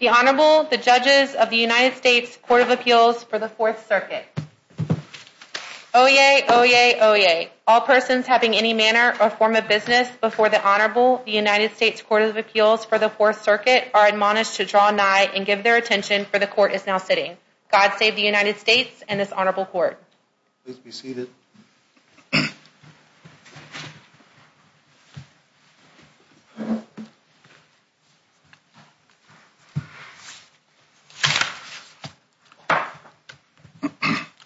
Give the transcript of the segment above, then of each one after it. The Honorable, the Judges of the United States Court of Appeals for the Fourth Circuit. Oyez! Oyez! Oyez! All persons having any manner or form of business before the Honorable, the United States Court of Appeals for the Fourth Circuit are admonished to draw nigh and give their attention, for the Court is now sitting. God save the United States and this Honorable Court. Please be seated.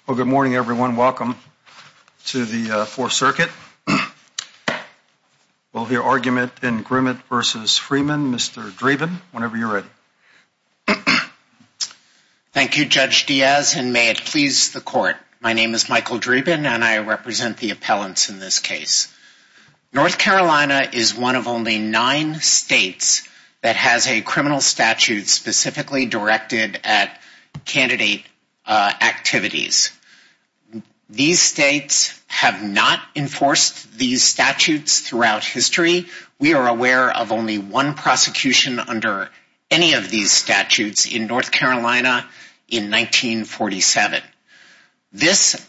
Well, good morning, everyone. Welcome to the Fourth Circuit. We'll hear argument in Grimmett v. Freeman. Mr. Dreeben, whenever you're ready. Thank you, Judge Diaz, and may it please the Court. My name is Michael Dreeben and I represent the appellants in this case. North Carolina is one of only nine states that has a criminal statute specifically directed at candidate activities. These states have not enforced these statutes throughout history. We are aware of only one prosecution under any of the statutes in North Carolina in 1947. This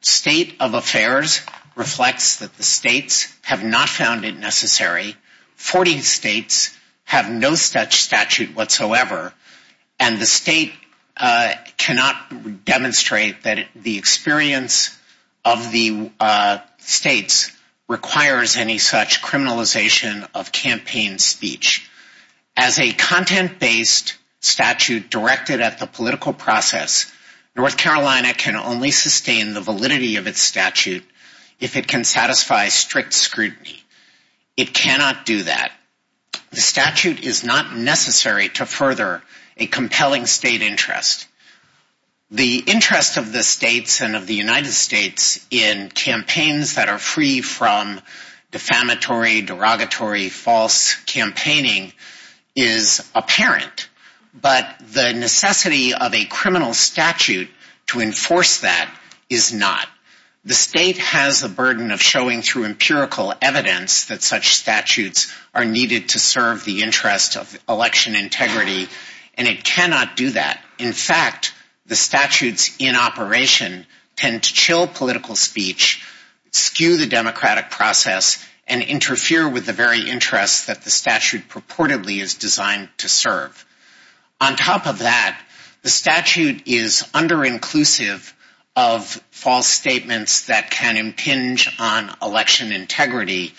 state of affairs reflects that the states have not found it necessary. Forty states have no such statute whatsoever, and the state cannot demonstrate that the experience of the states requires any such criminalization of campaign speech. As a content-based statute directed at the political process, North Carolina can only sustain the validity of its statute if it can satisfy strict scrutiny. It cannot do that. The statute is not necessary to further a compelling state interest. The interest of the states and of the United States in campaigns that are free from defamatory, derogatory, false campaigning is apparent, but the necessity of a criminal statute to enforce that is not. The state has the burden of showing through empirical evidence that such statutes are needed to serve the interest of election integrity, and it cannot do that. In fact, the statutes in operation tend to chill political speech, skew the democratic process, and interfere with the very interests that the statute purportedly is designed to serve. On top of that, the statute is under-inclusive of false statements that can impinge on election integrity,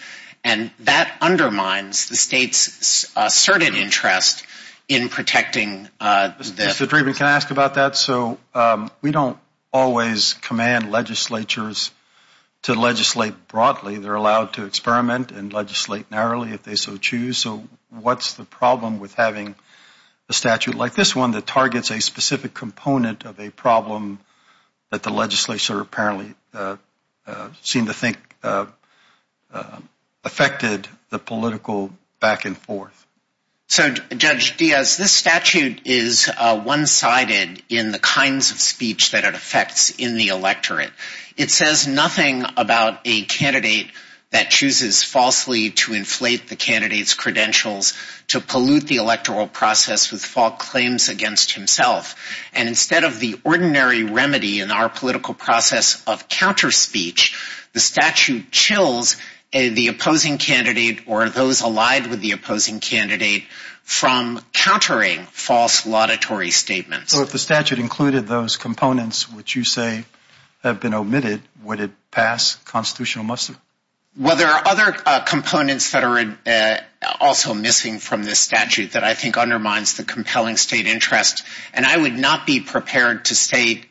and that undermines the state's asserted interest in protecting the... Mr. Draven, can I ask about that? So we don't always command legislatures to legislate broadly. They're allowed to experiment and legislate narrowly if they so choose. So what's the problem with having a statute like this one that targets a specific component of a problem that the legislature apparently seemed to think affected the political back and forth? So, Judge Diaz, this statute is one-sided in the kinds of speech that it affects in the electorate. It says nothing about a candidate that chooses falsely to inflate the candidate's credentials to pollute the electoral process with false claims against himself. And instead of the ordinary remedy in our political process of counter-speech, the statute chills the opposing candidate or those allied with the opposing candidate from countering false laudatory statements. So if the statute included those components which you say have been omitted, would it pass constitutional muster? Well, there are other components that are also missing from this statute that I think undermines the compelling state interest, and I would not be prepared to state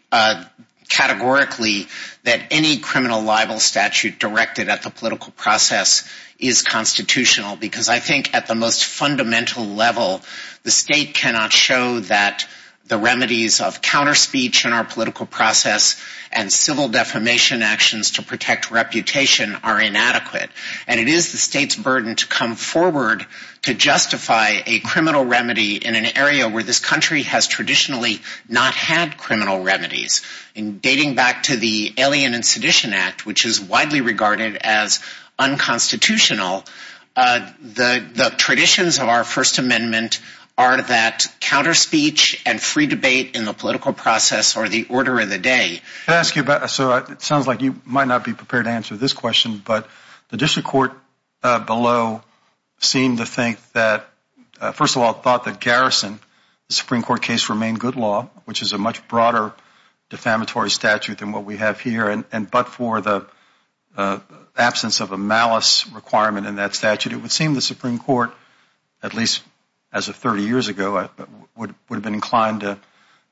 categorically that any criminal libel statute directed at the political process is constitutional, because I think at the most fundamental level, the state cannot show that the remedies of counter-speech in our political process and civil defamation actions to protect reputation are inadequate. And it is the state's burden to come forward to justify a criminal remedy in an area where this country has traditionally not had criminal remedies. Dating back to the Alien and Sedition Act, which is widely regarded as unconstitutional, the traditions of our First Amendment are that counter-speech and free debate in the political process are the order of the day. It sounds like you might not be prepared to answer this question, but the district court below seemed to think that, first of all, thought that Garrison, the Supreme Court case, remained good law, which is a much broader defamatory statute than what we have here, but for the absence of a malice requirement in that statute, it would seem the Supreme Court, at least as of 30 years ago, would have been inclined to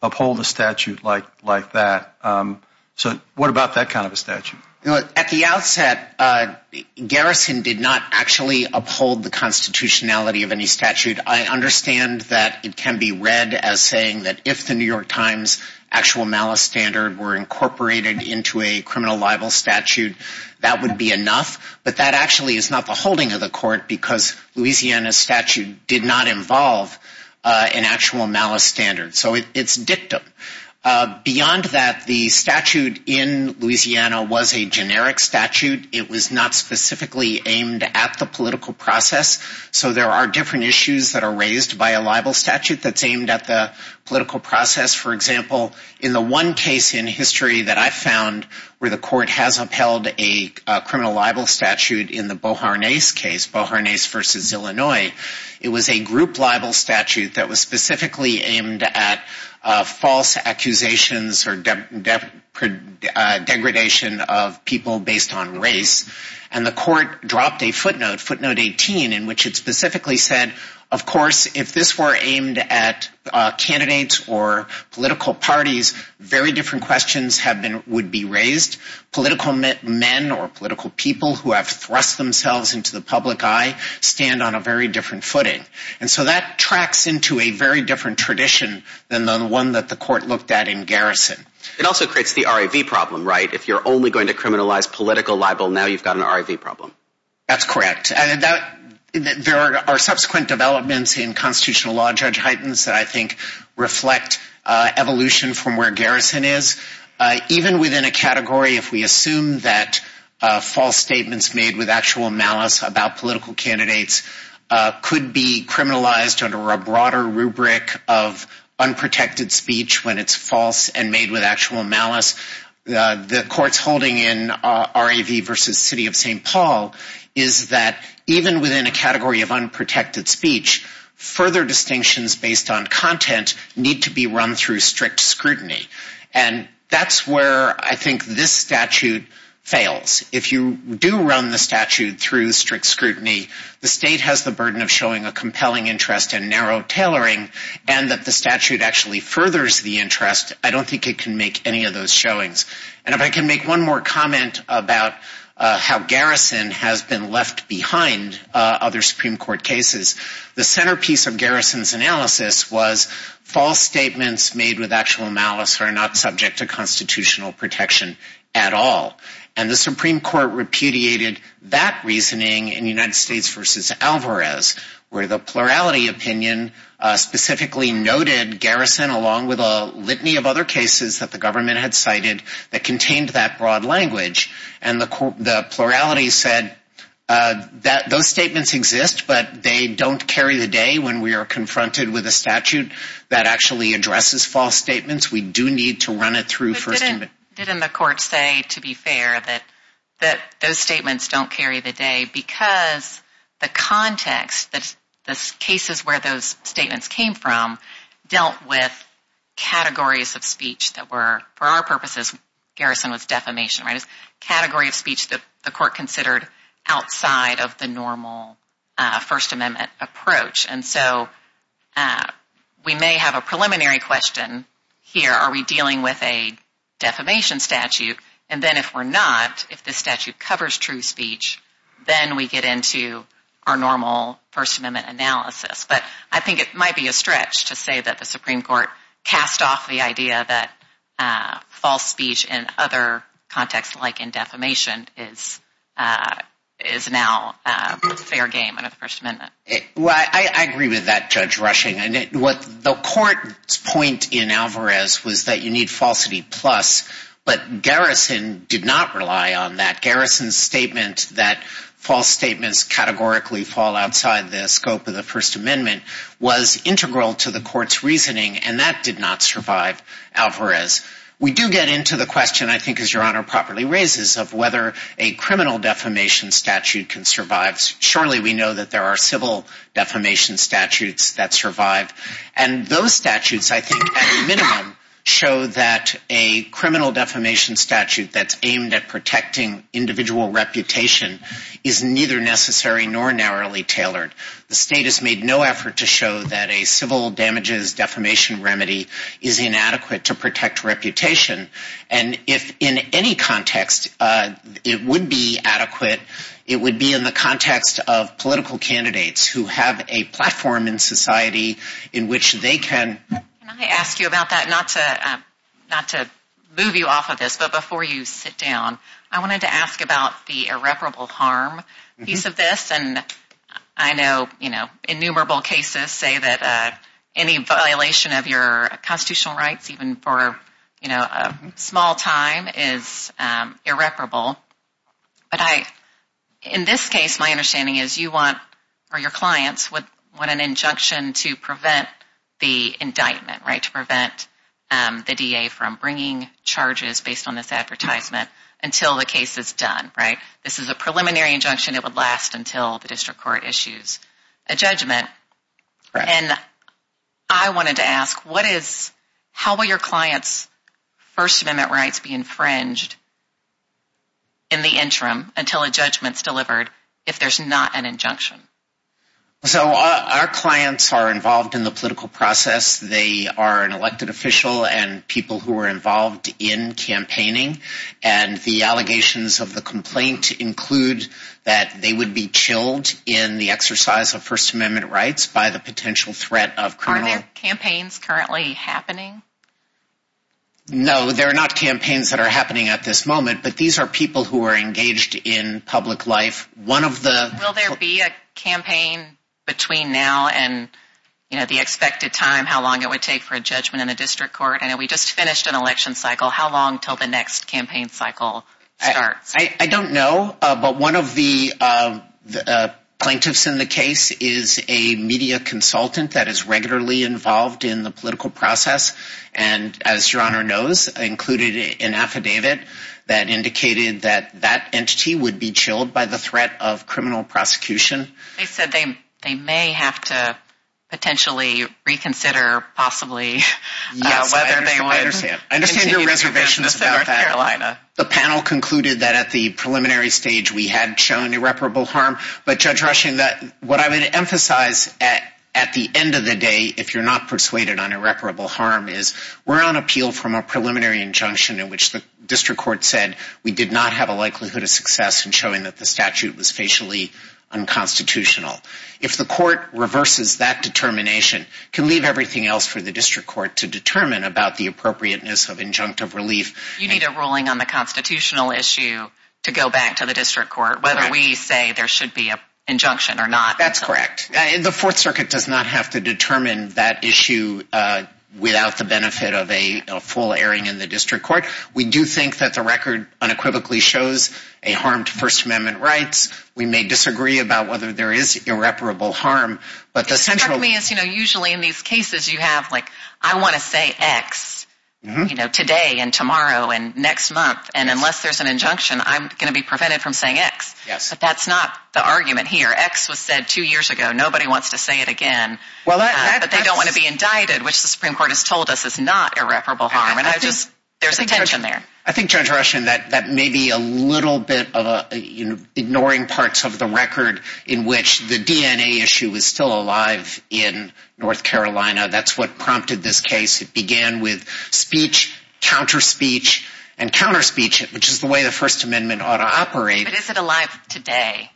uphold a statute like that. So what about that kind of a statute? At the outset, Garrison did not actually uphold the constitutionality of any statute. I understand that it can be read as saying that if the New York Times actual malice standard were incorporated into a criminal libel statute, that would be enough, but that actually is not the holding of the court because Louisiana's statute did not involve an actual malice standard. So it's dictum. Beyond that, the statute in Louisiana was a generic statute. It was not specifically aimed at the political process, so there are different issues that are raised by a libel statute that's aimed at the political process. For example, in the one case in history that I found where the court has upheld a criminal libel statute in the Boharnais case, Boharnais v. Illinois, it was a group libel statute that was specifically aimed at false accusations or degradation of people based on race, and the court dropped a footnote, footnote 18, in which it specifically said, of course, if this were aimed at candidates or political parties, very different questions would be raised. Political men or political people who have thrust themselves into the public eye stand on a very different footing. And so that tracks into a very different tradition than the one that the court looked at in Garrison. It also creates the RIV problem, right? If you're only going to criminalize political libel, now you've got an RIV problem. That's correct. There are subsequent developments in constitutional law, Judge Heitens, that I think reflect evolution from where Garrison is. Even within a category, if we have statements made with actual malice about political candidates, could be criminalized under a broader rubric of unprotected speech when it's false and made with actual malice, the court's holding in RIV v. City of St. Paul is that even within a category of unprotected speech, further distinctions based on content need to be run through strict scrutiny. And that's where I think this statute fails. If you do run the statute through strict scrutiny, the state has the burden of showing a compelling interest in narrow tailoring and that the statute actually furthers the interest. I don't think it can make any of those showings. And if I can make one more comment about how Garrison has been left behind other Supreme Court cases, the centerpiece of Garrison's analysis was false statements made with actual malice are not subject to constitutional protection at all. And the Supreme Court repudiated that reasoning in United States v. Alvarez, where the plurality opinion specifically noted Garrison along with a litany of other cases that the government had cited that contained that broad language. And the plurality said those statements exist, but they don't carry the day when we are confronted with a statute that actually addresses false statements. We do need to run it through first. Didn't the court say, to be fair, that those statements don't carry the day because the context, the cases where those statements came from dealt with categories of speech that were, for our purposes, Garrison was defamation, right? A category of speech that the court considered outside of the normal First Amendment approach. And so we may have a preliminary question here. Are we dealing with a defamation statute? And then if we're not, if the I think it might be a stretch to say that the Supreme Court cast off the idea that false speech in other contexts like in defamation is now fair game under the First Amendment. I agree with that, Judge Rushing. The court's point in Alvarez was that you need falsity plus, but Garrison did not rely on that. Garrison's statement that false statements categorically fall outside the scope of the First Amendment was integral to the court's reasoning, and that did not survive Alvarez. We do get into the question, I think as Your Honor properly raises, of whether a criminal defamation statute can survive. Surely we know that there are civil defamation statutes that survive. And those statutes, I think at a minimum, show that a criminal defamation statute that's aimed at protecting individual reputation is neither necessary nor narrowly tailored. The state has made no effort to show that a civil damages defamation remedy is inadequate to protect reputation. And if in any context it would be adequate, it would be in the context of political candidates who have a platform in society in which they can... Can I ask you about that? Not to move you off of this, but before you sit down, I wanted to ask about the irreparable harm piece of this. And I know innumerable cases say that any violation of your constitutional rights, even for a small time, is irreparable. But in this case, my understanding is you want, or your clients, want an injunction to prevent the indictment. To prevent the DA from bringing charges based on this advertisement until the case is done. This is a preliminary injunction. It would last until the district court issues a judgment. And I wanted to ask, how will your clients' First Amendment rights be infringed in the interim until a judgment is delivered if there's not an injunction? So our clients are involved in the political process. They are an elected official and people who are involved in campaigning. And the allegations of the complaint include that they would be chilled in the exercise of First Amendment rights by the potential threat of criminal... Are there campaigns currently happening? No, there are not campaigns that are happening at this moment, but these are people who are engaged in public life. Will there be a campaign between now and the expected time, how long it would take for a judgment in the district court? I know we just finished an election cycle. How long until the next campaign cycle starts? I don't know, but one of the plaintiffs in the case is a media consultant that is regularly involved in the political process. And as Your Honor knows, I included an affidavit that indicated that that entity would be chilled by the threat of criminal prosecution. They said they may have to potentially reconsider possibly whether they would continue to defend North Carolina. I understand your reservations about that. The panel concluded that at the preliminary stage we had shown irreparable harm, but Judge Rushing, what I would emphasize at the end of the day, if you're not persuaded on irreparable harm, is we're on appeal from a preliminary injunction in which the district court said we did not have a likelihood of success in showing that the statute was facially unconstitutional. If the court reverses that determination, it can leave everything else for the district court to determine about the appropriateness of injunctive relief. You need a ruling on the constitutional issue to go back to the district court, whether we say there should be an injunction or not. That's correct. The Fourth Circuit does not have to determine that issue without the benefit of a full airing in the district court. We do think that the record unequivocally shows a harm to First Amendment rights. We may disagree about whether there is irreparable harm. Usually in these cases you have, like, I want to say X today and tomorrow and next month, and unless there's an injunction, I'm going to be prevented from saying X. But that's not the argument here. X was said two years ago. Nobody wants to say it again. But they don't want to be indicted, which the Supreme Court has told us is not irreparable harm. There's a tension there. I think, Judge Ruschin, that may be a little bit of ignoring parts of the record in which the DNA issue is still alive in North Carolina. That's what prompted this case. It began with speech, counterspeech, and counterspeech, which is the way the First Amendment ought to operate. But is it alive today?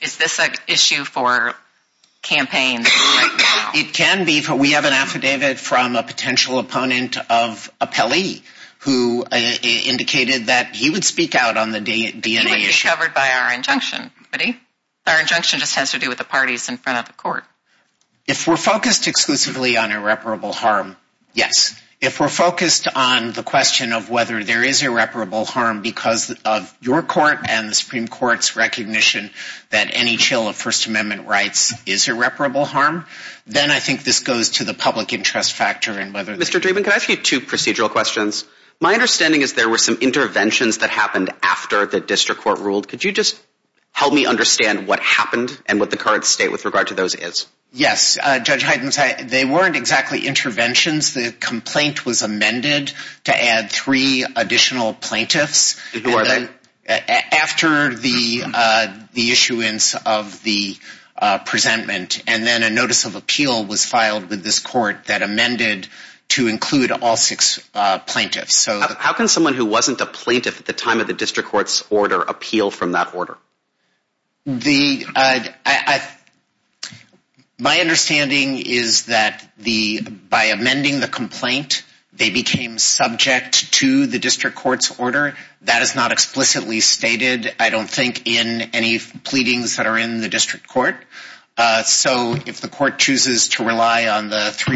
Is this an issue for campaigns right now? It can be. We have an affidavit from a potential opponent of a Pelley who indicated that he would speak out on the DNA issue. He wouldn't be covered by our injunction, would he? Our injunction just has to do with the parties in front of the court. If we're focused exclusively on irreparable harm, yes. If we're focused on the question of whether there is irreparable harm because of your court and the Supreme Court's recognition that any chill of First Amendment rights is irreparable harm, then I think this goes to the public interest factor. Mr. Dreeben, can I ask you two procedural questions? My understanding is there were some interventions that happened after the district court ruled. Could you just help me understand what happened and what the current state with regard to those is? Yes. Judge Hydens, they weren't exactly interventions. The complaint was amended to add three additional plaintiffs. Who are they? After the issuance of the presentment. And then a notice of appeal was filed with this court that amended to include all six plaintiffs. How can someone who wasn't a plaintiff at the time of the district court's order appeal from that order? My understanding is that by amending the complaint, they became subject to the district court's order. That is not explicitly stated, I don't think, in any of the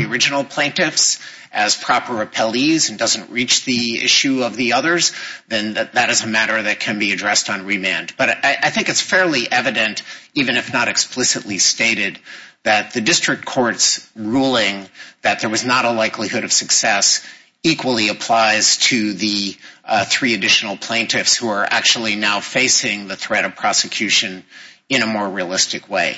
original plaintiffs as proper appellees and doesn't reach the issue of the others, then that is a matter that can be addressed on remand. But I think it's fairly evident, even if not explicitly stated, that the district court's ruling that there was not a likelihood of success equally applies to the three additional plaintiffs who are actually now facing the threat of prosecution in a more realistic way.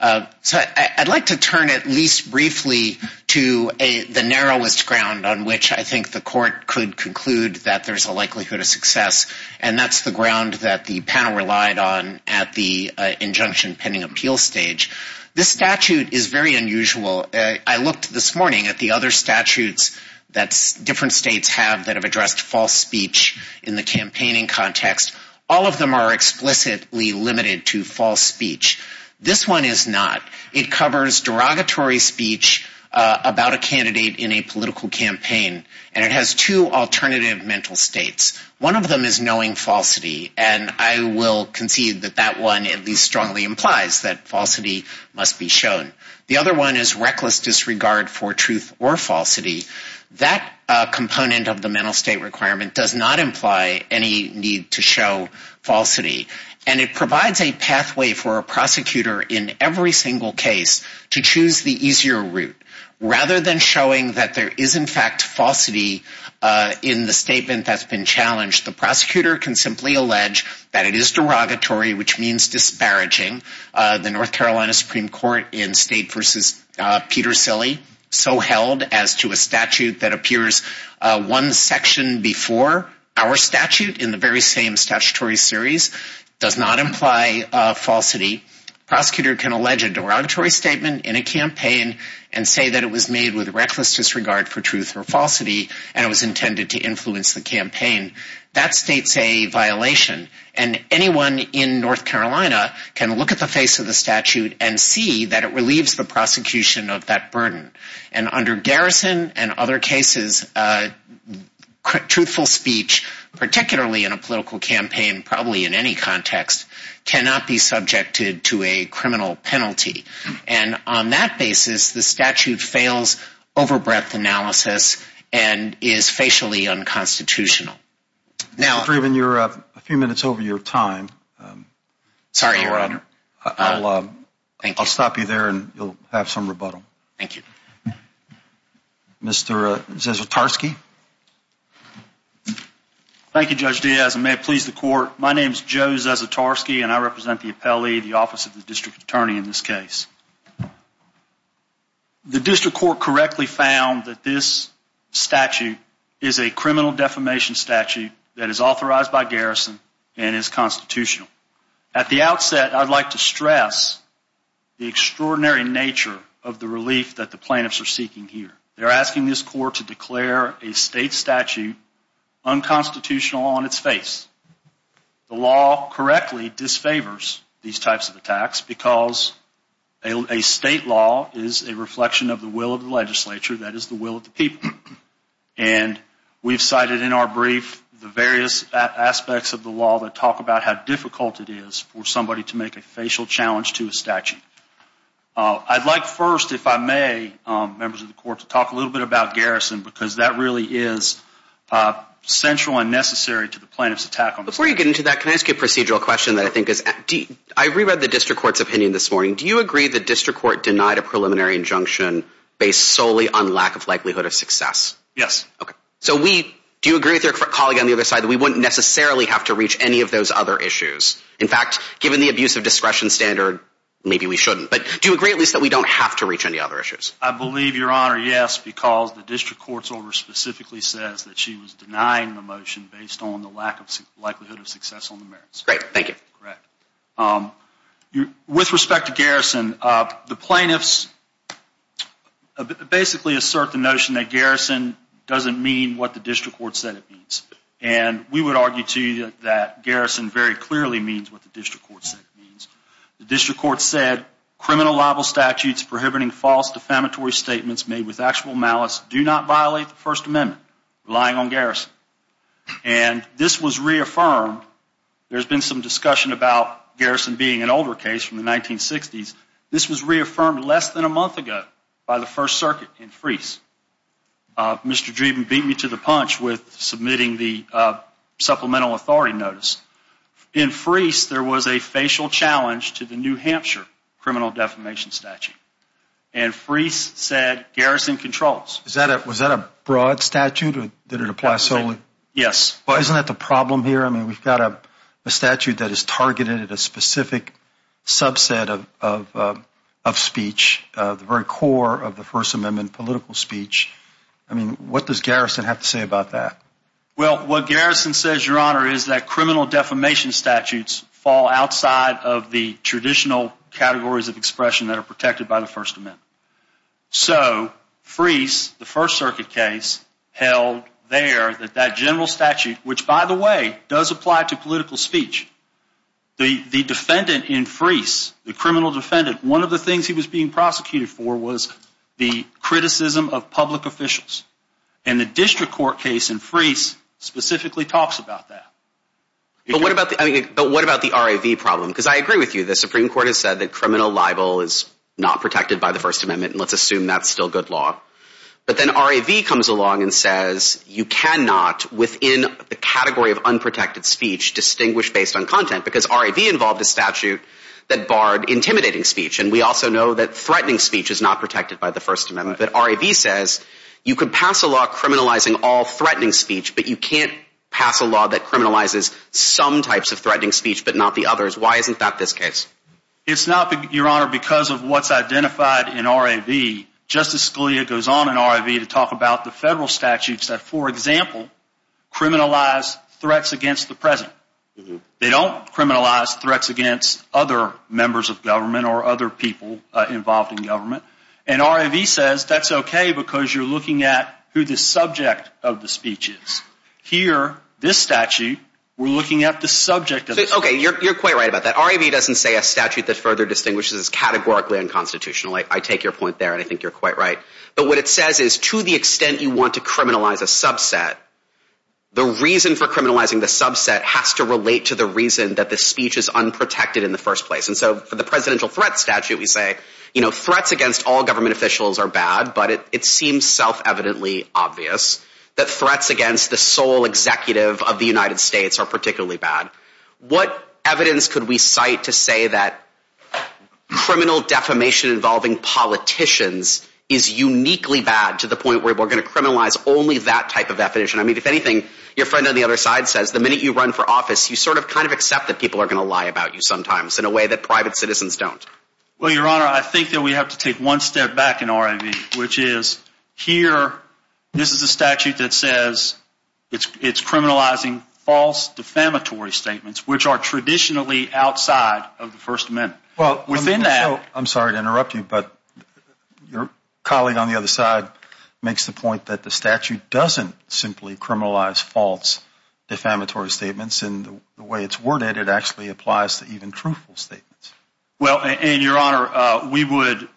I'd like to turn at least briefly to the narrowest ground on which I think the court could conclude that there's a likelihood of success. And that's the ground that the panel relied on at the injunction pending appeal stage. This statute is very unusual. I looked this morning at the other statutes that different states have that have addressed false speech in the campaigning context. All of them are explicitly limited to false speech. This one is not. It covers derogatory speech about a candidate in a political campaign. And it has two alternative mental states. One of them is knowing falsity. And I will concede that that one at least strongly implies that falsity must be shown. The other one is reckless disregard for truth or falsity. That component of the mental state requirement does not imply any need to show falsity. And it provides a pathway for a prosecutor in every single case to choose the easier route. Rather than showing that there is in fact falsity in the statement that's been challenged, the prosecutor can simply allege that it is derogatory, which means disparaging. The North Carolina Supreme Court in State v. Peter Silley so held as to a statute that appears one section before our statute in the very same statutory series does not imply falsity. The prosecutor can allege a derogatory statement in a campaign and say that it was made with reckless disregard for truth or falsity and it was intended to influence the campaign. That states a violation. And anyone in North Carolina can look at the face of the statute and see that it relieves the prosecution of that burden. And under Garrison and other cases, truthful speech, particularly in a political campaign, probably in any context, cannot be subjected to a criminal penalty. And on that basis, the statute fails over-breath analysis and is facially unconstitutional. Mr. Driven, you're a few minutes over your time. I'll stop you there and you'll have some rebuttal. Thank you. Mr. Zasotarski. Thank you, Judge Diaz. And may it please the court, my name is Joe Zasotarski and I represent the appellee, the office of the district attorney in this case. The district court correctly found that this statute is a criminal defamation statute that is authorized by Garrison and is constitutional. At the outset, I'd like to stress the extraordinary nature of the relief that the plaintiffs are seeking here. They're asking this court to declare a state statute unconstitutional on its face. The law correctly disfavors these types of attacks because a state law is a reflection of the will of the legislature, that is the will of the people. And we've cited in our brief the various aspects of the law that talk about how difficult it is for somebody to make a facial challenge to a statute. I'd like first, if I may, members of the court, to talk a little bit about Garrison because that really is central and necessary to the plaintiff's attack. Before you get into that, can I ask you a procedural question? I reread the district court's opinion this morning. Do you agree the district court denied a preliminary injunction based solely on lack of likelihood of success? Yes. Do you agree with your colleague on the other side that we wouldn't necessarily have to reach any of those other issues? In fact, given the abuse of discretion standard, maybe we shouldn't. But do you agree at least that we don't have to reach any other issues? I believe, Your Honor, yes, because the district court's order specifically says that she was denying the motion based on the lack of likelihood of success on the merits. Great, thank you. With respect to Garrison, the plaintiffs basically assert the notion that Garrison doesn't mean what the district court said it means. And we would argue, too, that Garrison very clearly means what the district court said it means. The district court said criminal libel statutes prohibiting false defamatory statements made with actual malice do not violate the First Amendment, relying on Garrison. And this was reaffirmed. There's been some discussion about Garrison being an older case from the 1960s. This was reaffirmed less than a month ago by the First Circuit in Freese. Mr. Dreeben beat me to the punch with submitting the supplemental authority notice. In Freese, there was a facial challenge to the New Hampshire criminal defamation statute. And Freese said Garrison controls. Was that a broad statute? Did it apply solely? Yes. Well, isn't that the problem here? I mean, we've got a statute that is targeted at a specific subset of speech, the very core of the First Amendment political speech. I mean, what does Garrison have to say about that? Well, what Garrison says, Your Honor, is that criminal defamation statutes fall outside of the traditional categories of expression that are protected by the First Amendment. So Freese, the First Circuit case, held there that that general statute, which, by the way, does apply to political speech. The defendant in Freese, the criminal defendant, one of the things he was being prosecuted for was the criticism of public officials. And the district court case in Freese specifically talks about that. But what about the R.A.V. problem? Because I agree with you. The Supreme Court has said that criminal libel is not protected by the First Amendment. And let's assume that's still good law. But then R.A.V. comes along and says you cannot, within the category of unprotected speech, distinguish based on content because R.A.V. involved a statute that barred intimidating speech. And we also know that threatening speech is not protected by the First Amendment. But R.A.V. says you can pass a law criminalizing all threatening speech, but you can't pass a law that criminalizes some types of threatening speech but not the others. Why isn't that this case? It's not, Your Honor, because of what's identified in R.A.V. Justice Scalia goes on in R.A.V. to talk about the federal statutes that, for example, criminalize threats against the President. They don't criminalize threats against other members of government or other people involved in government. And R.A.V. says that's okay because you're looking at who the subject of the speech is. Here, this statute, we're looking at the subject of the speech. Okay, you're quite right about that. R.A.V. doesn't say a statute that further distinguishes categorically and constitutionally. I take your point there and I think you're quite right. But what it says is to the extent you want to criminalize a subset, the reason for criminalizing the subset has to relate to the reason that the speech is unprotected in the first place. And so for the Presidential Threat Statute, we say, you know, threats against all government officials are bad, but it seems self-evidently obvious that threats against the sole executive of the United States are particularly bad. What evidence could we cite to say that criminal defamation involving politicians is uniquely bad to the point where we're going to criminalize only that type of definition? I mean, if anything, your friend on the other side says the minute you run for office, you sort of kind of accept that people are going to lie about you sometimes in a way that private citizens don't. Well, Your Honor, I think that we have to take one step back in R.A.V. which is here, this is a statute that says it's criminalizing false defamatory statements, which are traditionally outside of the First Amendment. I'm sorry to interrupt you, but your colleague on the other side makes the point that the statute doesn't simply criminalize false defamatory statements. And the way it's worded, it actually applies to even truthful statements. Well, and Your Honor, we would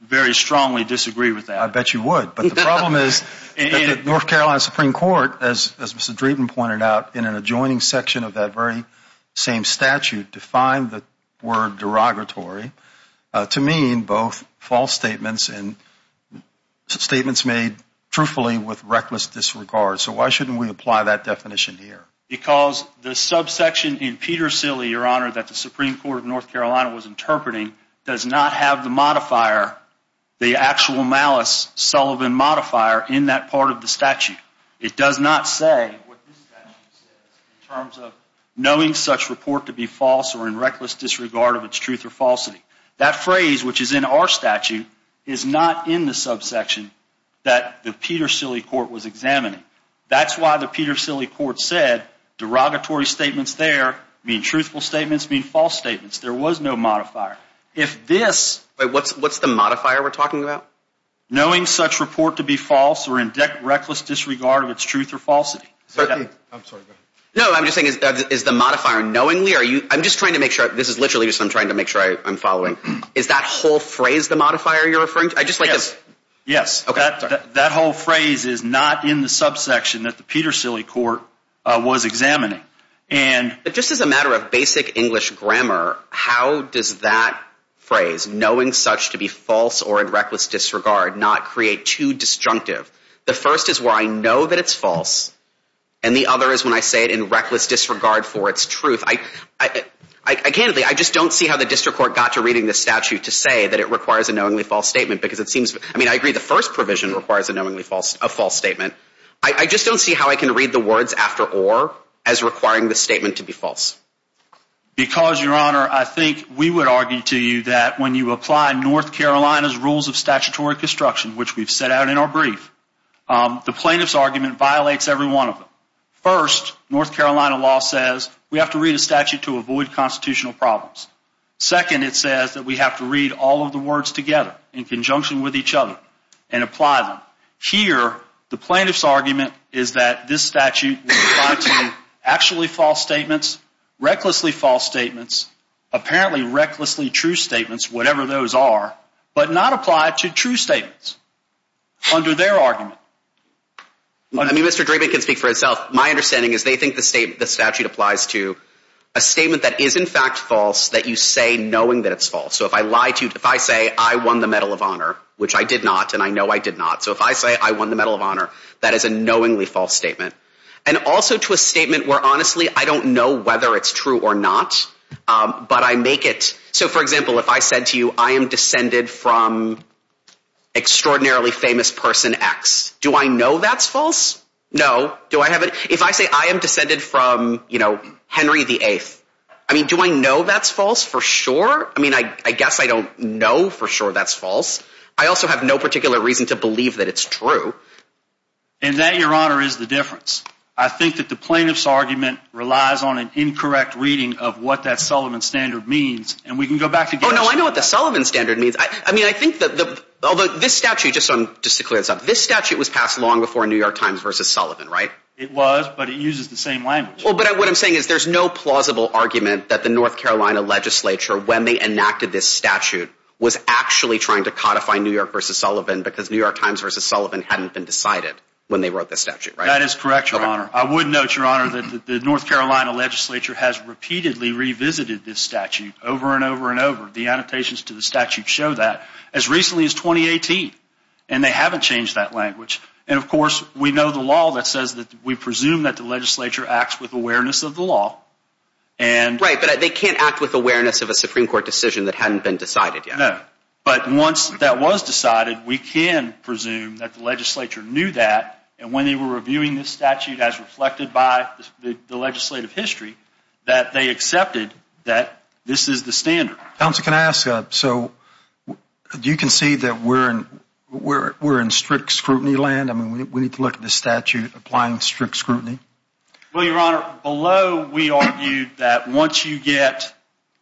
very strongly disagree with that. I bet you would, but the problem is that the North Carolina Supreme Court, as Mr. Dreeben pointed out, in an adjoining section of that very same statute defined the word derogatory to mean both false statements and statements made truthfully with reckless disregard. So why shouldn't we apply that definition here? Because the subsection in Peter Silley, Your Honor, that the Supreme Court of North Carolina was interpreting, does not have the modifier, the actual malice Sullivan modifier in that part of the statute. It does not say what this statute says in terms of knowing such report to be false or in reckless disregard of its truth or falsity. That phrase, which is in our statute, is not in the subsection that the Peter Silley Court was examining. That's why the Peter Silley Court said derogatory statements there mean truthful statements mean false statements. There was no modifier. If this... Wait, what's the modifier we're talking about? Knowing such report to be false or in reckless disregard of its truth or falsity. I'm sorry, go ahead. No, I'm just saying, is the modifier knowingly? I'm just trying to make sure. This is literally just I'm trying to make sure I'm following. Is that whole phrase the modifier you're referring to? Yes, that whole phrase is not in the subsection that the Peter Silley Court was examining. And just as a matter of basic English grammar, how does that phrase knowing such to be false or in reckless disregard not create too disjunctive? The first is where I know that it's false. And the other is when I say it in reckless disregard for its truth. Candidly, I just don't see how the district court got to reading the statute to say that it requires a knowingly false statement because it seems... I mean, I agree the first provision requires a knowingly false statement. I just don't see how I can read the words after or as requiring the statement to be false. Because, Your Honor, I think we would argue to you that when you apply North Carolina's rules of statutory construction, which we've set out in our brief, the plaintiff's argument violates every one of them. First, North Carolina law says we have to read a statute to avoid constitutional problems. Second, it says that we have to read all of the words together in conjunction with each other and apply them. Here, the plaintiff's argument is that this statute will apply to actually false statements, recklessly false statements, apparently recklessly true statements, whatever those are, but not apply to true statements under their argument. I mean, Mr. Drabin can speak for himself. My understanding is they think the statute applies to a statement that is in fact false that you say knowing that it's false. So if I lie to you, if I say I won the Medal of Honor, which I did not and I know I did not, so if I say I won the Medal of Honor, that is a knowingly false statement. And also to a statement where, honestly, I don't know whether it's true or not, but I make it... So, for example, if I said to you I am descended from extraordinarily famous person X, do I know that's false? No. Do I have it? If I say I am descended from, you know, Henry VIII, I mean, do I know that's false for sure? I mean, I guess I don't know for sure that's false. I also have no particular reason to believe that it's true. And that, Your Honor, is the difference. I think that the plaintiff's argument relies on an incorrect reading of what that Sullivan standard means. And we can go back to... Oh, no, I know what the Sullivan standard means. I mean, I think that the... Although this statute, just to clear this up, this statute was passed long before New York Times v. Sullivan, right? It was, but it uses the same language. Well, but what I'm saying is there's no plausible argument that the North Carolina legislature, when they enacted this statute, was actually trying to codify New York v. Sullivan because New York Times v. Sullivan hadn't been decided when they wrote this statute, right? That is correct, Your Honor. I would note, Your Honor, that the North Carolina legislature has repeatedly revisited this statute over and over and over. The annotations to the statute show that as recently as 2018. And they haven't changed that language. And, of course, we know the law that says that we presume that the legislature acts with awareness of the law and... Right, but they can't act with awareness of a Supreme Court decision that hadn't been decided yet. No, but once that was decided, we can presume that the legislature knew that and when they were reviewing this statute as reflected by the legislative history, that they accepted that this is the standard. Counsel, can I ask, so do you concede that we're in strict scrutiny land? I mean, we need to look at this statute applying strict scrutiny. Well, Your Honor, below we argued that once you get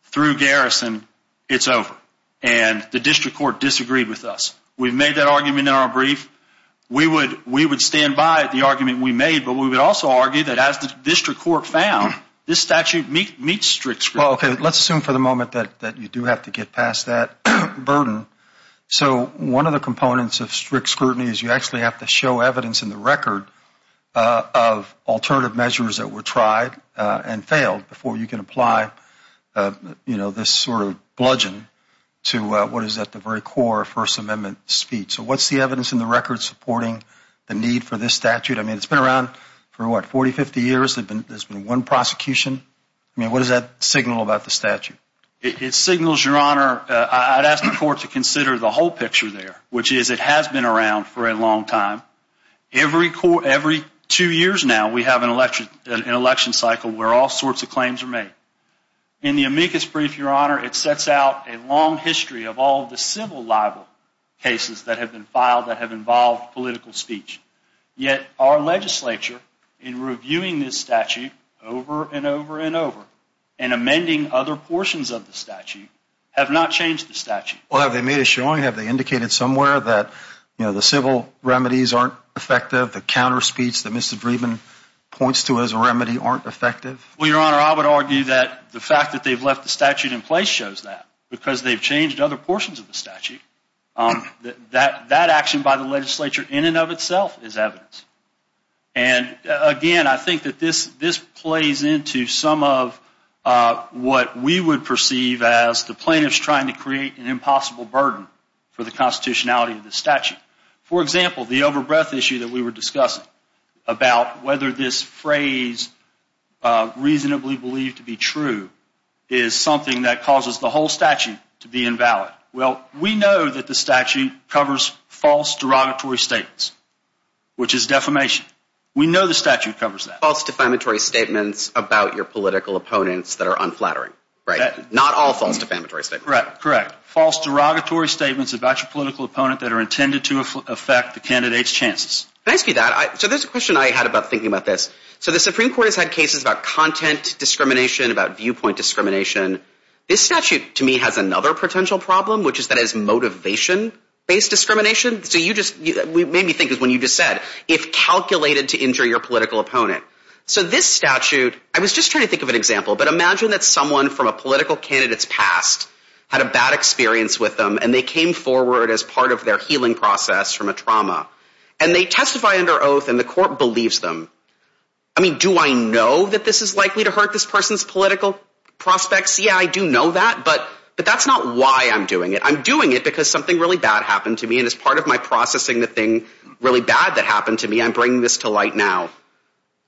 through garrison, it's over. And the district court disagreed with us. We've made that argument in our brief. We would stand by the argument we made, but we would also argue that as the district court found, this statute meets strict scrutiny. Well, okay, let's assume for the moment that you do have to get past that burden. So one of the components of strict scrutiny is you actually have to show evidence in the record of alternative measures that were tried and failed before you can apply, you know, this sort of bludgeon to what is at the very core of First Amendment speech. So what's the evidence in the record supporting the need for this statute? I mean, it's been around for what, 40, 50 years? There's been one prosecution? I mean, what does that signal about the statute? It signals, Your Honor, I'd ask the court to consider the whole picture there, which is it has been around for a long time. Every two years now, we have an election cycle where all sorts of claims are made. In the amicus brief, Your Honor, it sets out a long history of all the civil libel cases that have been filed that have involved political speech. Yet our legislature in reviewing this statute over and over and over and amending other portions of the statute have not changed the statute. Well, have they made a showing? Have they indicated somewhere that, you know, the civil remedies aren't effective, the counter speech that Mr. Dreeben points to as a remedy aren't effective? Well, Your Honor, I would argue that the fact that they've left the statute in place shows that because they've changed other portions of the statute, that action by the legislature in and of itself is evidence. And again, I think that this plays into some of what we would perceive as the plaintiffs trying to create an impossible burden for the constitutionality of the statute. For example, the over-breath issue that we were discussing about whether this phrase reasonably believed to be true is something that causes the whole statute to be invalid. Well, we know that the statute covers false derogatory statements, which is defamation. We know the statute covers that. False defamatory statements about your political opponents that are unflattering, right? Not all false defamatory statements. Correct, correct. False derogatory statements about your political opponent that are intended to affect the candidate's chances. Can I ask you that? So there's a question I had about thinking about this. So the Supreme Court has had cases about content discrimination, about viewpoint discrimination. This statute, to me, has another potential problem, which is that it's motivation-based discrimination. So you just made me think of when you just said, if calculated to injure your political opponent. So this statute, I was just trying to think of an example, but imagine that someone from a political candidate's past had a bad experience with them and they came forward as part of their healing process from a trauma. And they testify under oath and the court believes them. I mean, do I know that this is likely to hurt this person's political prospects? Yeah, I do know that, but that's not why I'm doing it. I'm doing it because something really bad happened to me, and as part of my processing the thing really bad that happened to me, I'm bringing this to light now.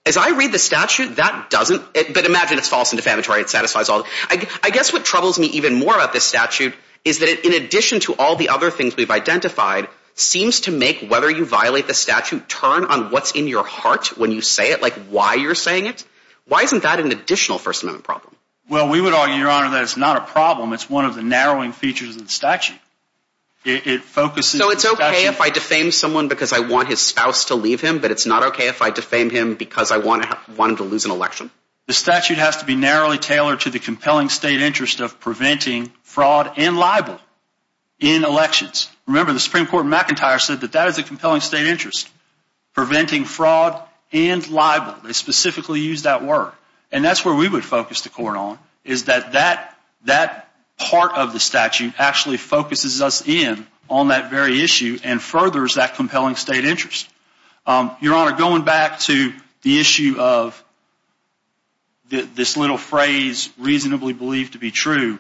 As I read the statute, that doesn't, but imagine it's false and defamatory. It satisfies all. I guess what troubles me even more about this statute is that it, in addition to all the other things we've identified, seems to make whether you violate the statute turn on what's in your heart when you say it, like why you're saying it. Why isn't that an additional First Amendment problem? Well, we would argue, Your Honor, that it's not a problem. It's one of the narrowing features of the statute. So it's okay if I defame someone because I want his spouse to leave him, but it's not okay if I defame him because I want him to lose an election? The statute has to be narrowly tailored to the compelling state interest of preventing fraud and libel in elections. Remember, the Supreme Court in McIntyre said that that is a compelling state interest, preventing fraud and libel. They specifically used that word. And that's where we would focus the court on, is that that part of the statute actually focuses us in on that very issue and furthers that compelling state interest. Your Honor, going back to the issue of this little phrase, reasonably believed to be true,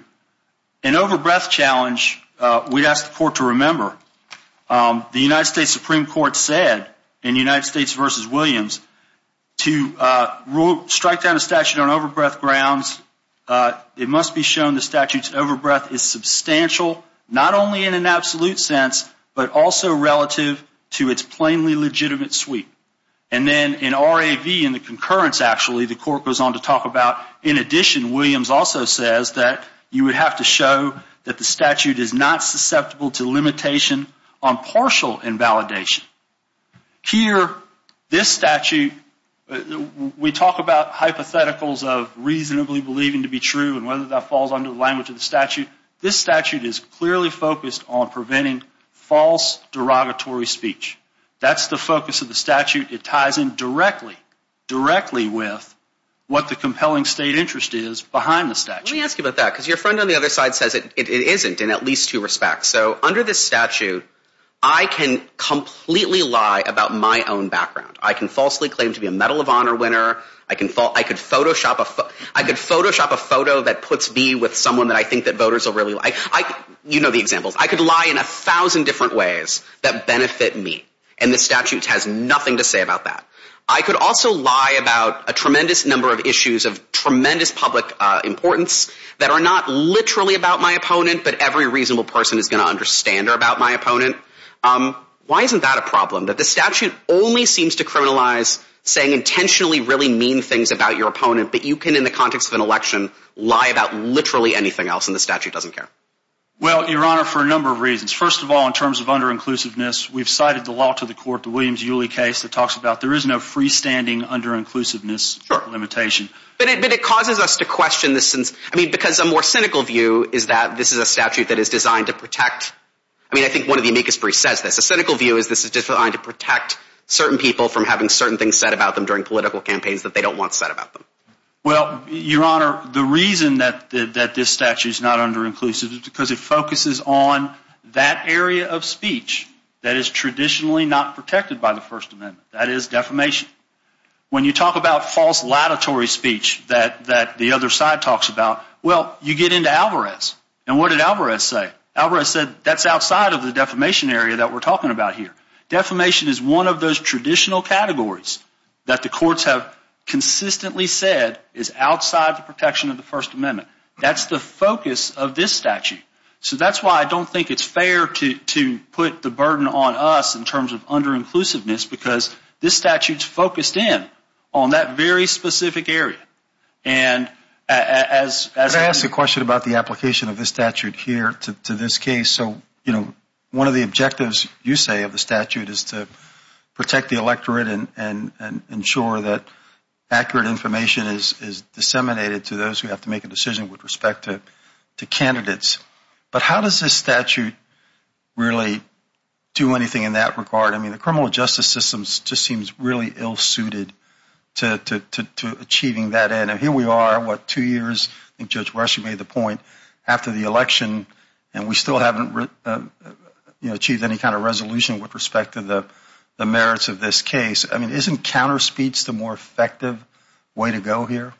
an overbreath challenge, we'd ask the court to remember, the United States Supreme Court said in United States v. Williams, to strike down a statute on overbreath grounds, it must be shown the statute's overbreath is substantial, not only in an absolute sense, but also relative to its plainly legitimate suite. And then in R.A.V., in the concurrence, actually, the court goes on to talk about, in addition, Williams also says that you would have to show that the statute is not susceptible to limitation on partial invalidation. Here, this statute, we talk about hypotheticals of reasonably believing to be true and whether that falls under the language of the statute. This statute is clearly focused on preventing false derogatory speech. That's the focus of the statute. It ties in directly, directly with what the compelling state interest is behind the statute. Let me ask you about that, because your friend on the other side says it isn't, in at least two respects. So under this statute, I can completely lie about my own background. I can falsely claim to be a Medal of Honor winner. I could Photoshop a photo that puts me with someone that I think that voters will really like. You know the examples. I could lie in a thousand different ways that benefit me, and the statute has nothing to say about that. I could also lie about a tremendous number of issues of tremendous public importance that are not literally about my opponent, but every reasonable person is going to understand are about my opponent. Why isn't that a problem? That the statute only seems to criminalize saying intentionally really mean things about your opponent, but you can, in the context of an election, lie about literally anything else, and the statute doesn't care. Well, Your Honor, for a number of reasons. First of all, in terms of under-inclusiveness, we've cited the law to the court, the Williams-Uly case, that talks about there is no freestanding under-inclusiveness limitation. But it causes us to question this, because a more cynical view is that this is a statute that is designed to protect. I mean, I think one of the amicus briefs says this. A cynical view is this is designed to protect certain people from having certain things said about them during political campaigns that they don't want said about them. Well, Your Honor, the reason that this statute is not under-inclusive is because it focuses on that area of speech that is traditionally not protected by the First Amendment. That is defamation. When you talk about false latitory speech that the other side talks about, well, you get into Alvarez. And what did Alvarez say? Alvarez said that's outside of the defamation area that we're talking about here. Defamation is one of those traditional categories that the courts have consistently said is outside the protection of the First Amendment. That's the focus of this statute. So that's why I don't think it's fair to put the burden on us in terms of under-inclusiveness, because this statute is focused in on that very specific area. Could I ask a question about the application of this statute here to this case? One of the objectives, you say, of the statute is to protect the electorate and ensure that accurate information is disseminated to those who have to make a decision with respect to candidates. But how does this statute really do anything in that regard? I mean, the criminal justice system just seems really ill-suited to achieving that end. And here we are, what, two years? I think Judge Rush made the point. After the election, and we still haven't achieved any kind of resolution with respect to the merits of this case. I mean, isn't counterspeech the more effective way to go here?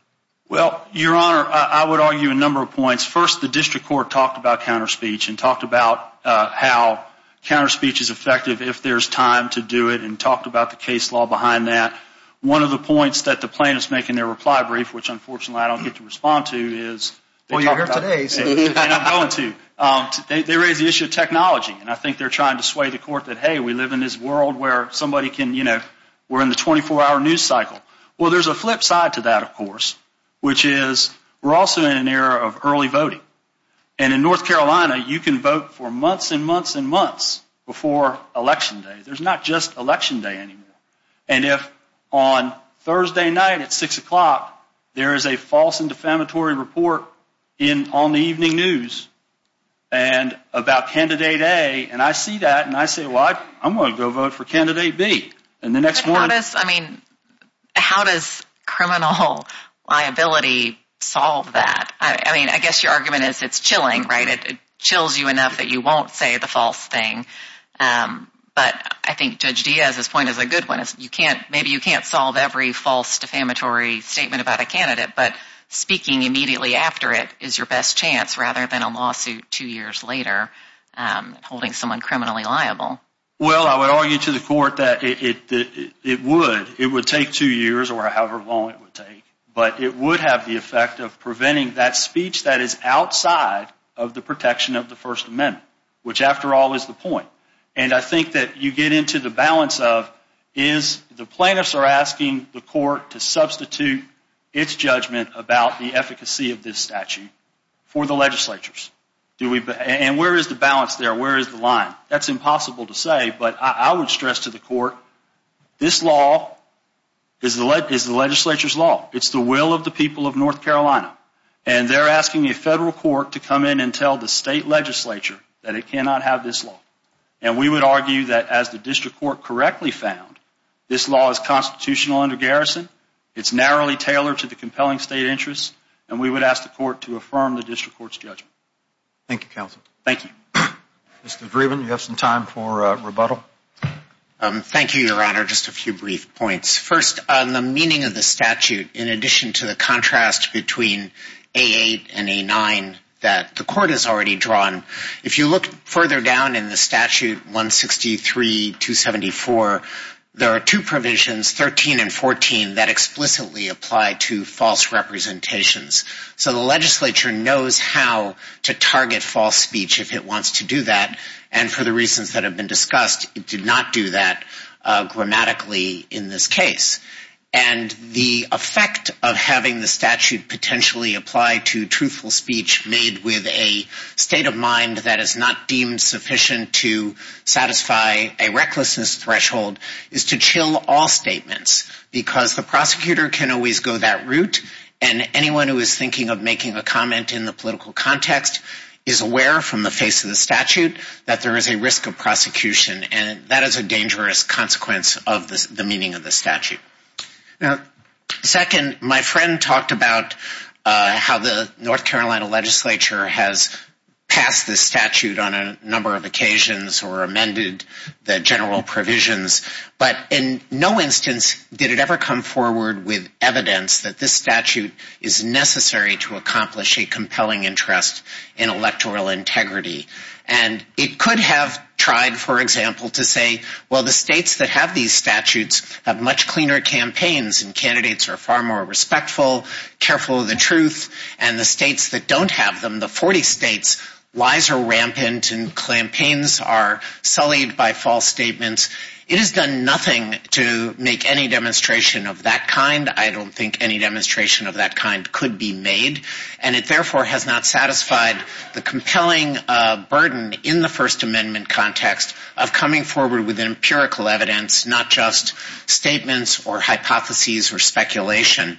Well, Your Honor, I would argue a number of points. First, the district court talked about counterspeech and talked about how counterspeech is effective if there's time to do it and talked about the case law behind that. One of the points that the plaintiffs make in their reply brief, which unfortunately I don't get to respond to, is Well, you're here today. And I'm going to. They raise the issue of technology, and I think they're trying to sway the court that, hey, we live in this world where somebody can, you know, we're in the 24-hour news cycle. Well, there's a flip side to that, of course, which is we're also in an era of early voting. And in North Carolina, you can vote for months and months and months before Election Day. There's not just Election Day anymore. And if on Thursday night at 6 o'clock there is a false and defamatory report on the evening news about Candidate A, and I see that and I say, well, I'm going to go vote for Candidate B. But how does criminal liability solve that? I mean, I guess your argument is it's chilling, right? It chills you enough that you won't say the false thing. But I think Judge Diaz's point is a good one. Maybe you can't solve every false defamatory statement about a candidate, but speaking immediately after it is your best chance rather than a lawsuit two years later holding someone criminally liable. Well, I would argue to the court that it would. It would take two years or however long it would take. But it would have the effect of preventing that speech that is outside of the protection of the First Amendment, which, after all, is the point. And I think that you get into the balance of is the plaintiffs are asking the court to substitute its judgment about the efficacy of this statute for the legislatures. And where is the balance there? Where is the line? That's impossible to say, but I would stress to the court this law is the legislature's law. It's the will of the people of North Carolina. And they're asking a federal court to come in and tell the state legislature that it cannot have this law. And we would argue that as the district court correctly found, this law is constitutional under garrison, it's narrowly tailored to the compelling state interests, and we would ask the court to affirm the district court's judgment. Thank you, counsel. Thank you. Mr. Dreeben, you have some time for rebuttal? Thank you, Your Honor. Just a few brief points. First, on the meaning of the statute, in addition to the contrast between A8 and A9 that the court has already drawn, if you look further down in the statute 163-274, there are two provisions, 13 and 14, that explicitly apply to false representations. So the legislature knows how to target false speech if it wants to do that, and for the reasons that have been discussed, it did not do that grammatically in this case. And the effect of having the statute potentially apply to truthful speech made with a state of mind that is not deemed sufficient to satisfy a recklessness threshold is to chill all statements, because the prosecutor can always go that route, and anyone who is thinking of making a comment in the political context is aware from the face of the statute that there is a risk of prosecution, and that is a dangerous consequence of the meaning of the statute. Second, my friend talked about how the North Carolina legislature has passed this statute on a number of occasions or amended the general provisions. But in no instance did it ever come forward with evidence that this statute is necessary to accomplish a compelling interest in electoral integrity. And it could have tried, for example, to say, well, the states that have these statutes have much cleaner campaigns and candidates are far more respectful, careful of the truth, and the states that don't have them, the 40 states, lies are rampant and campaigns are sullied by false statements. It has done nothing to make any demonstration of that kind. I don't think any demonstration of that kind could be made, and it therefore has not satisfied the compelling burden in the First Amendment context of coming forward with empirical evidence, not just statements or hypotheses or speculation.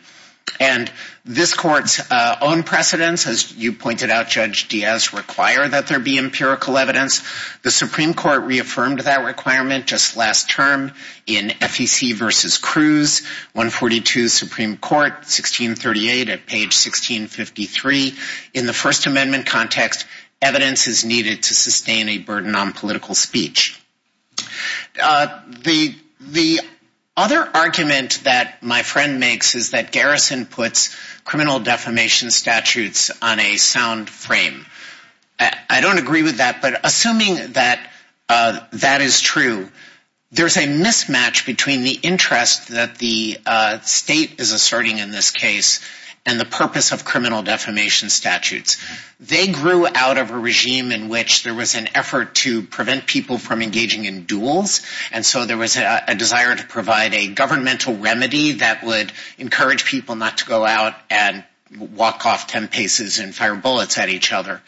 And this court's own precedents, as you pointed out, Judge Diaz, require that there be empirical evidence. The Supreme Court reaffirmed that requirement just last term in FEC v. Cruz, 142 Supreme Court, 1638 at page 1653. In the First Amendment context, evidence is needed to sustain a burden on political speech. The other argument that my friend makes is that Garrison puts criminal defamation statutes on a sound frame. I don't agree with that, but assuming that that is true, there's a mismatch between the interest that the state is asserting in this case and the purpose of criminal defamation statutes. They grew out of a regime in which there was an effort to prevent people from engaging in duels, and so there was a desire to provide a governmental remedy that would encourage people not to go out and walk off ten paces and fire bullets at each other.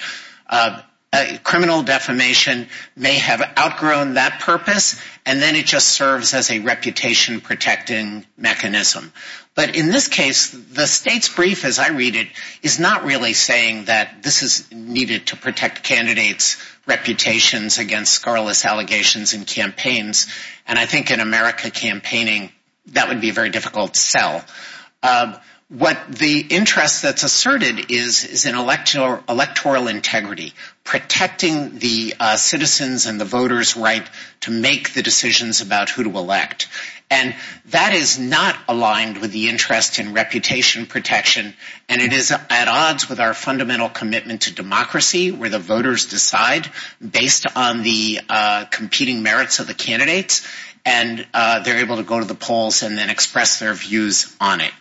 Criminal defamation may have outgrown that purpose, and then it just serves as a reputation-protecting mechanism. But in this case, the state's brief, as I read it, is not really saying that this is needed to protect candidates' reputations against scarless allegations in campaigns. And I think in America campaigning, that would be a very difficult sell. The interest that's asserted is in electoral integrity, protecting the citizens' and the voters' right to make the decisions about who to elect. And that is not aligned with the interest in reputation protection, and it is at odds with our fundamental commitment to democracy, where the voters decide based on the competing merits of the candidates, and they're able to go to the polls and then express their views on it.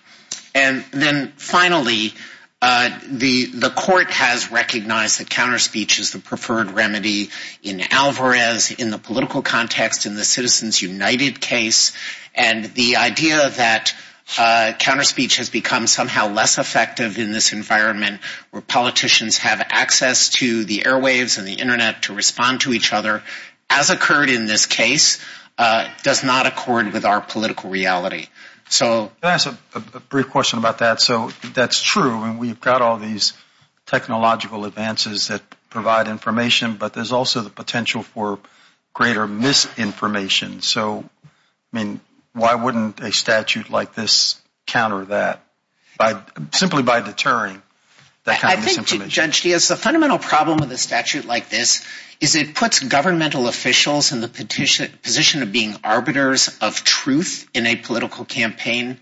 And then finally, the court has recognized that counterspeech is the preferred remedy in Alvarez, in the political context, in the Citizens United case, and the idea that counterspeech has become somehow less effective in this environment where politicians have access to the airwaves and the Internet to respond to each other, as occurred in this case, does not accord with our political reality. So... Can I ask a brief question about that? So, that's true, and we've got all these technological advances that provide information, but there's also the potential for greater misinformation. So, I mean, why wouldn't a statute like this counter that, simply by deterring that kind of misinformation? Judge Diaz, the fundamental problem with a statute like this is it puts governmental officials in the position of being arbiters of truth in a political campaign,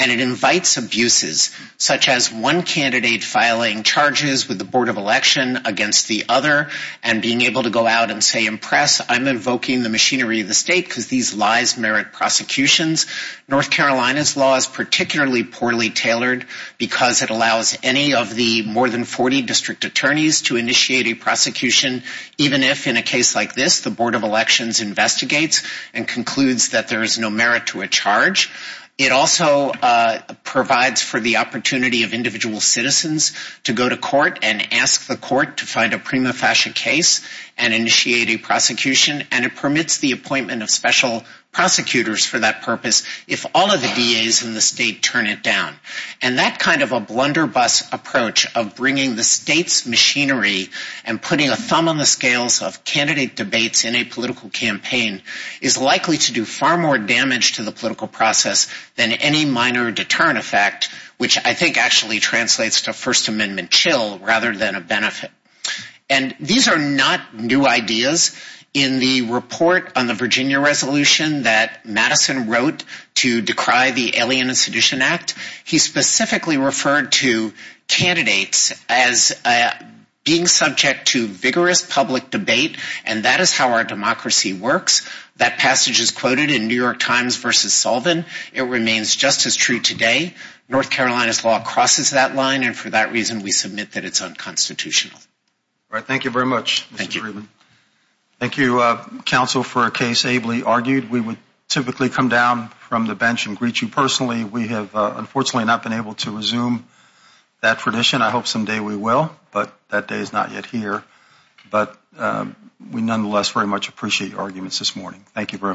and it invites abuses, such as one candidate filing charges with the Board of Election against the other and being able to go out and say, impress, I'm invoking the machinery of the state, because these lies merit prosecutions. North Carolina's law is particularly poorly tailored because it allows any of the more than 40 district attorneys to initiate a prosecution, even if, in a case like this, the Board of Elections investigates and concludes that there is no merit to a charge. It also provides for the opportunity of individual citizens to go to court and ask the court to find a prima facie case and initiate a prosecution, and it permits the appointment of special prosecutors for that purpose if all of the DAs in the state turn it down. And that kind of a blunderbuss approach of bringing the state's machinery and putting a thumb on the scales of candidate debates in a political campaign is likely to do far more damage to the political process than any minor deterrent effect, which I think actually translates to First Amendment chill rather than a benefit. And these are not new ideas. In the report on the Virginia resolution that Madison wrote to decry the Alien and Sedition Act, he specifically referred to candidates as being subject to vigorous public debate, and that is how our democracy works. That passage is quoted in New York Times versus Sullivan. It remains just as true today. North Carolina's law crosses that line, and for that reason we submit that it's unconstitutional. All right. Thank you very much, Mr. Friedman. Thank you. Thank you, counsel, for a case ably argued. We would typically come down from the bench and greet you personally. We have unfortunately not been able to resume that tradition. I hope someday we will, but that day is not yet here. But we nonetheless very much appreciate your arguments this morning. Thank you very much.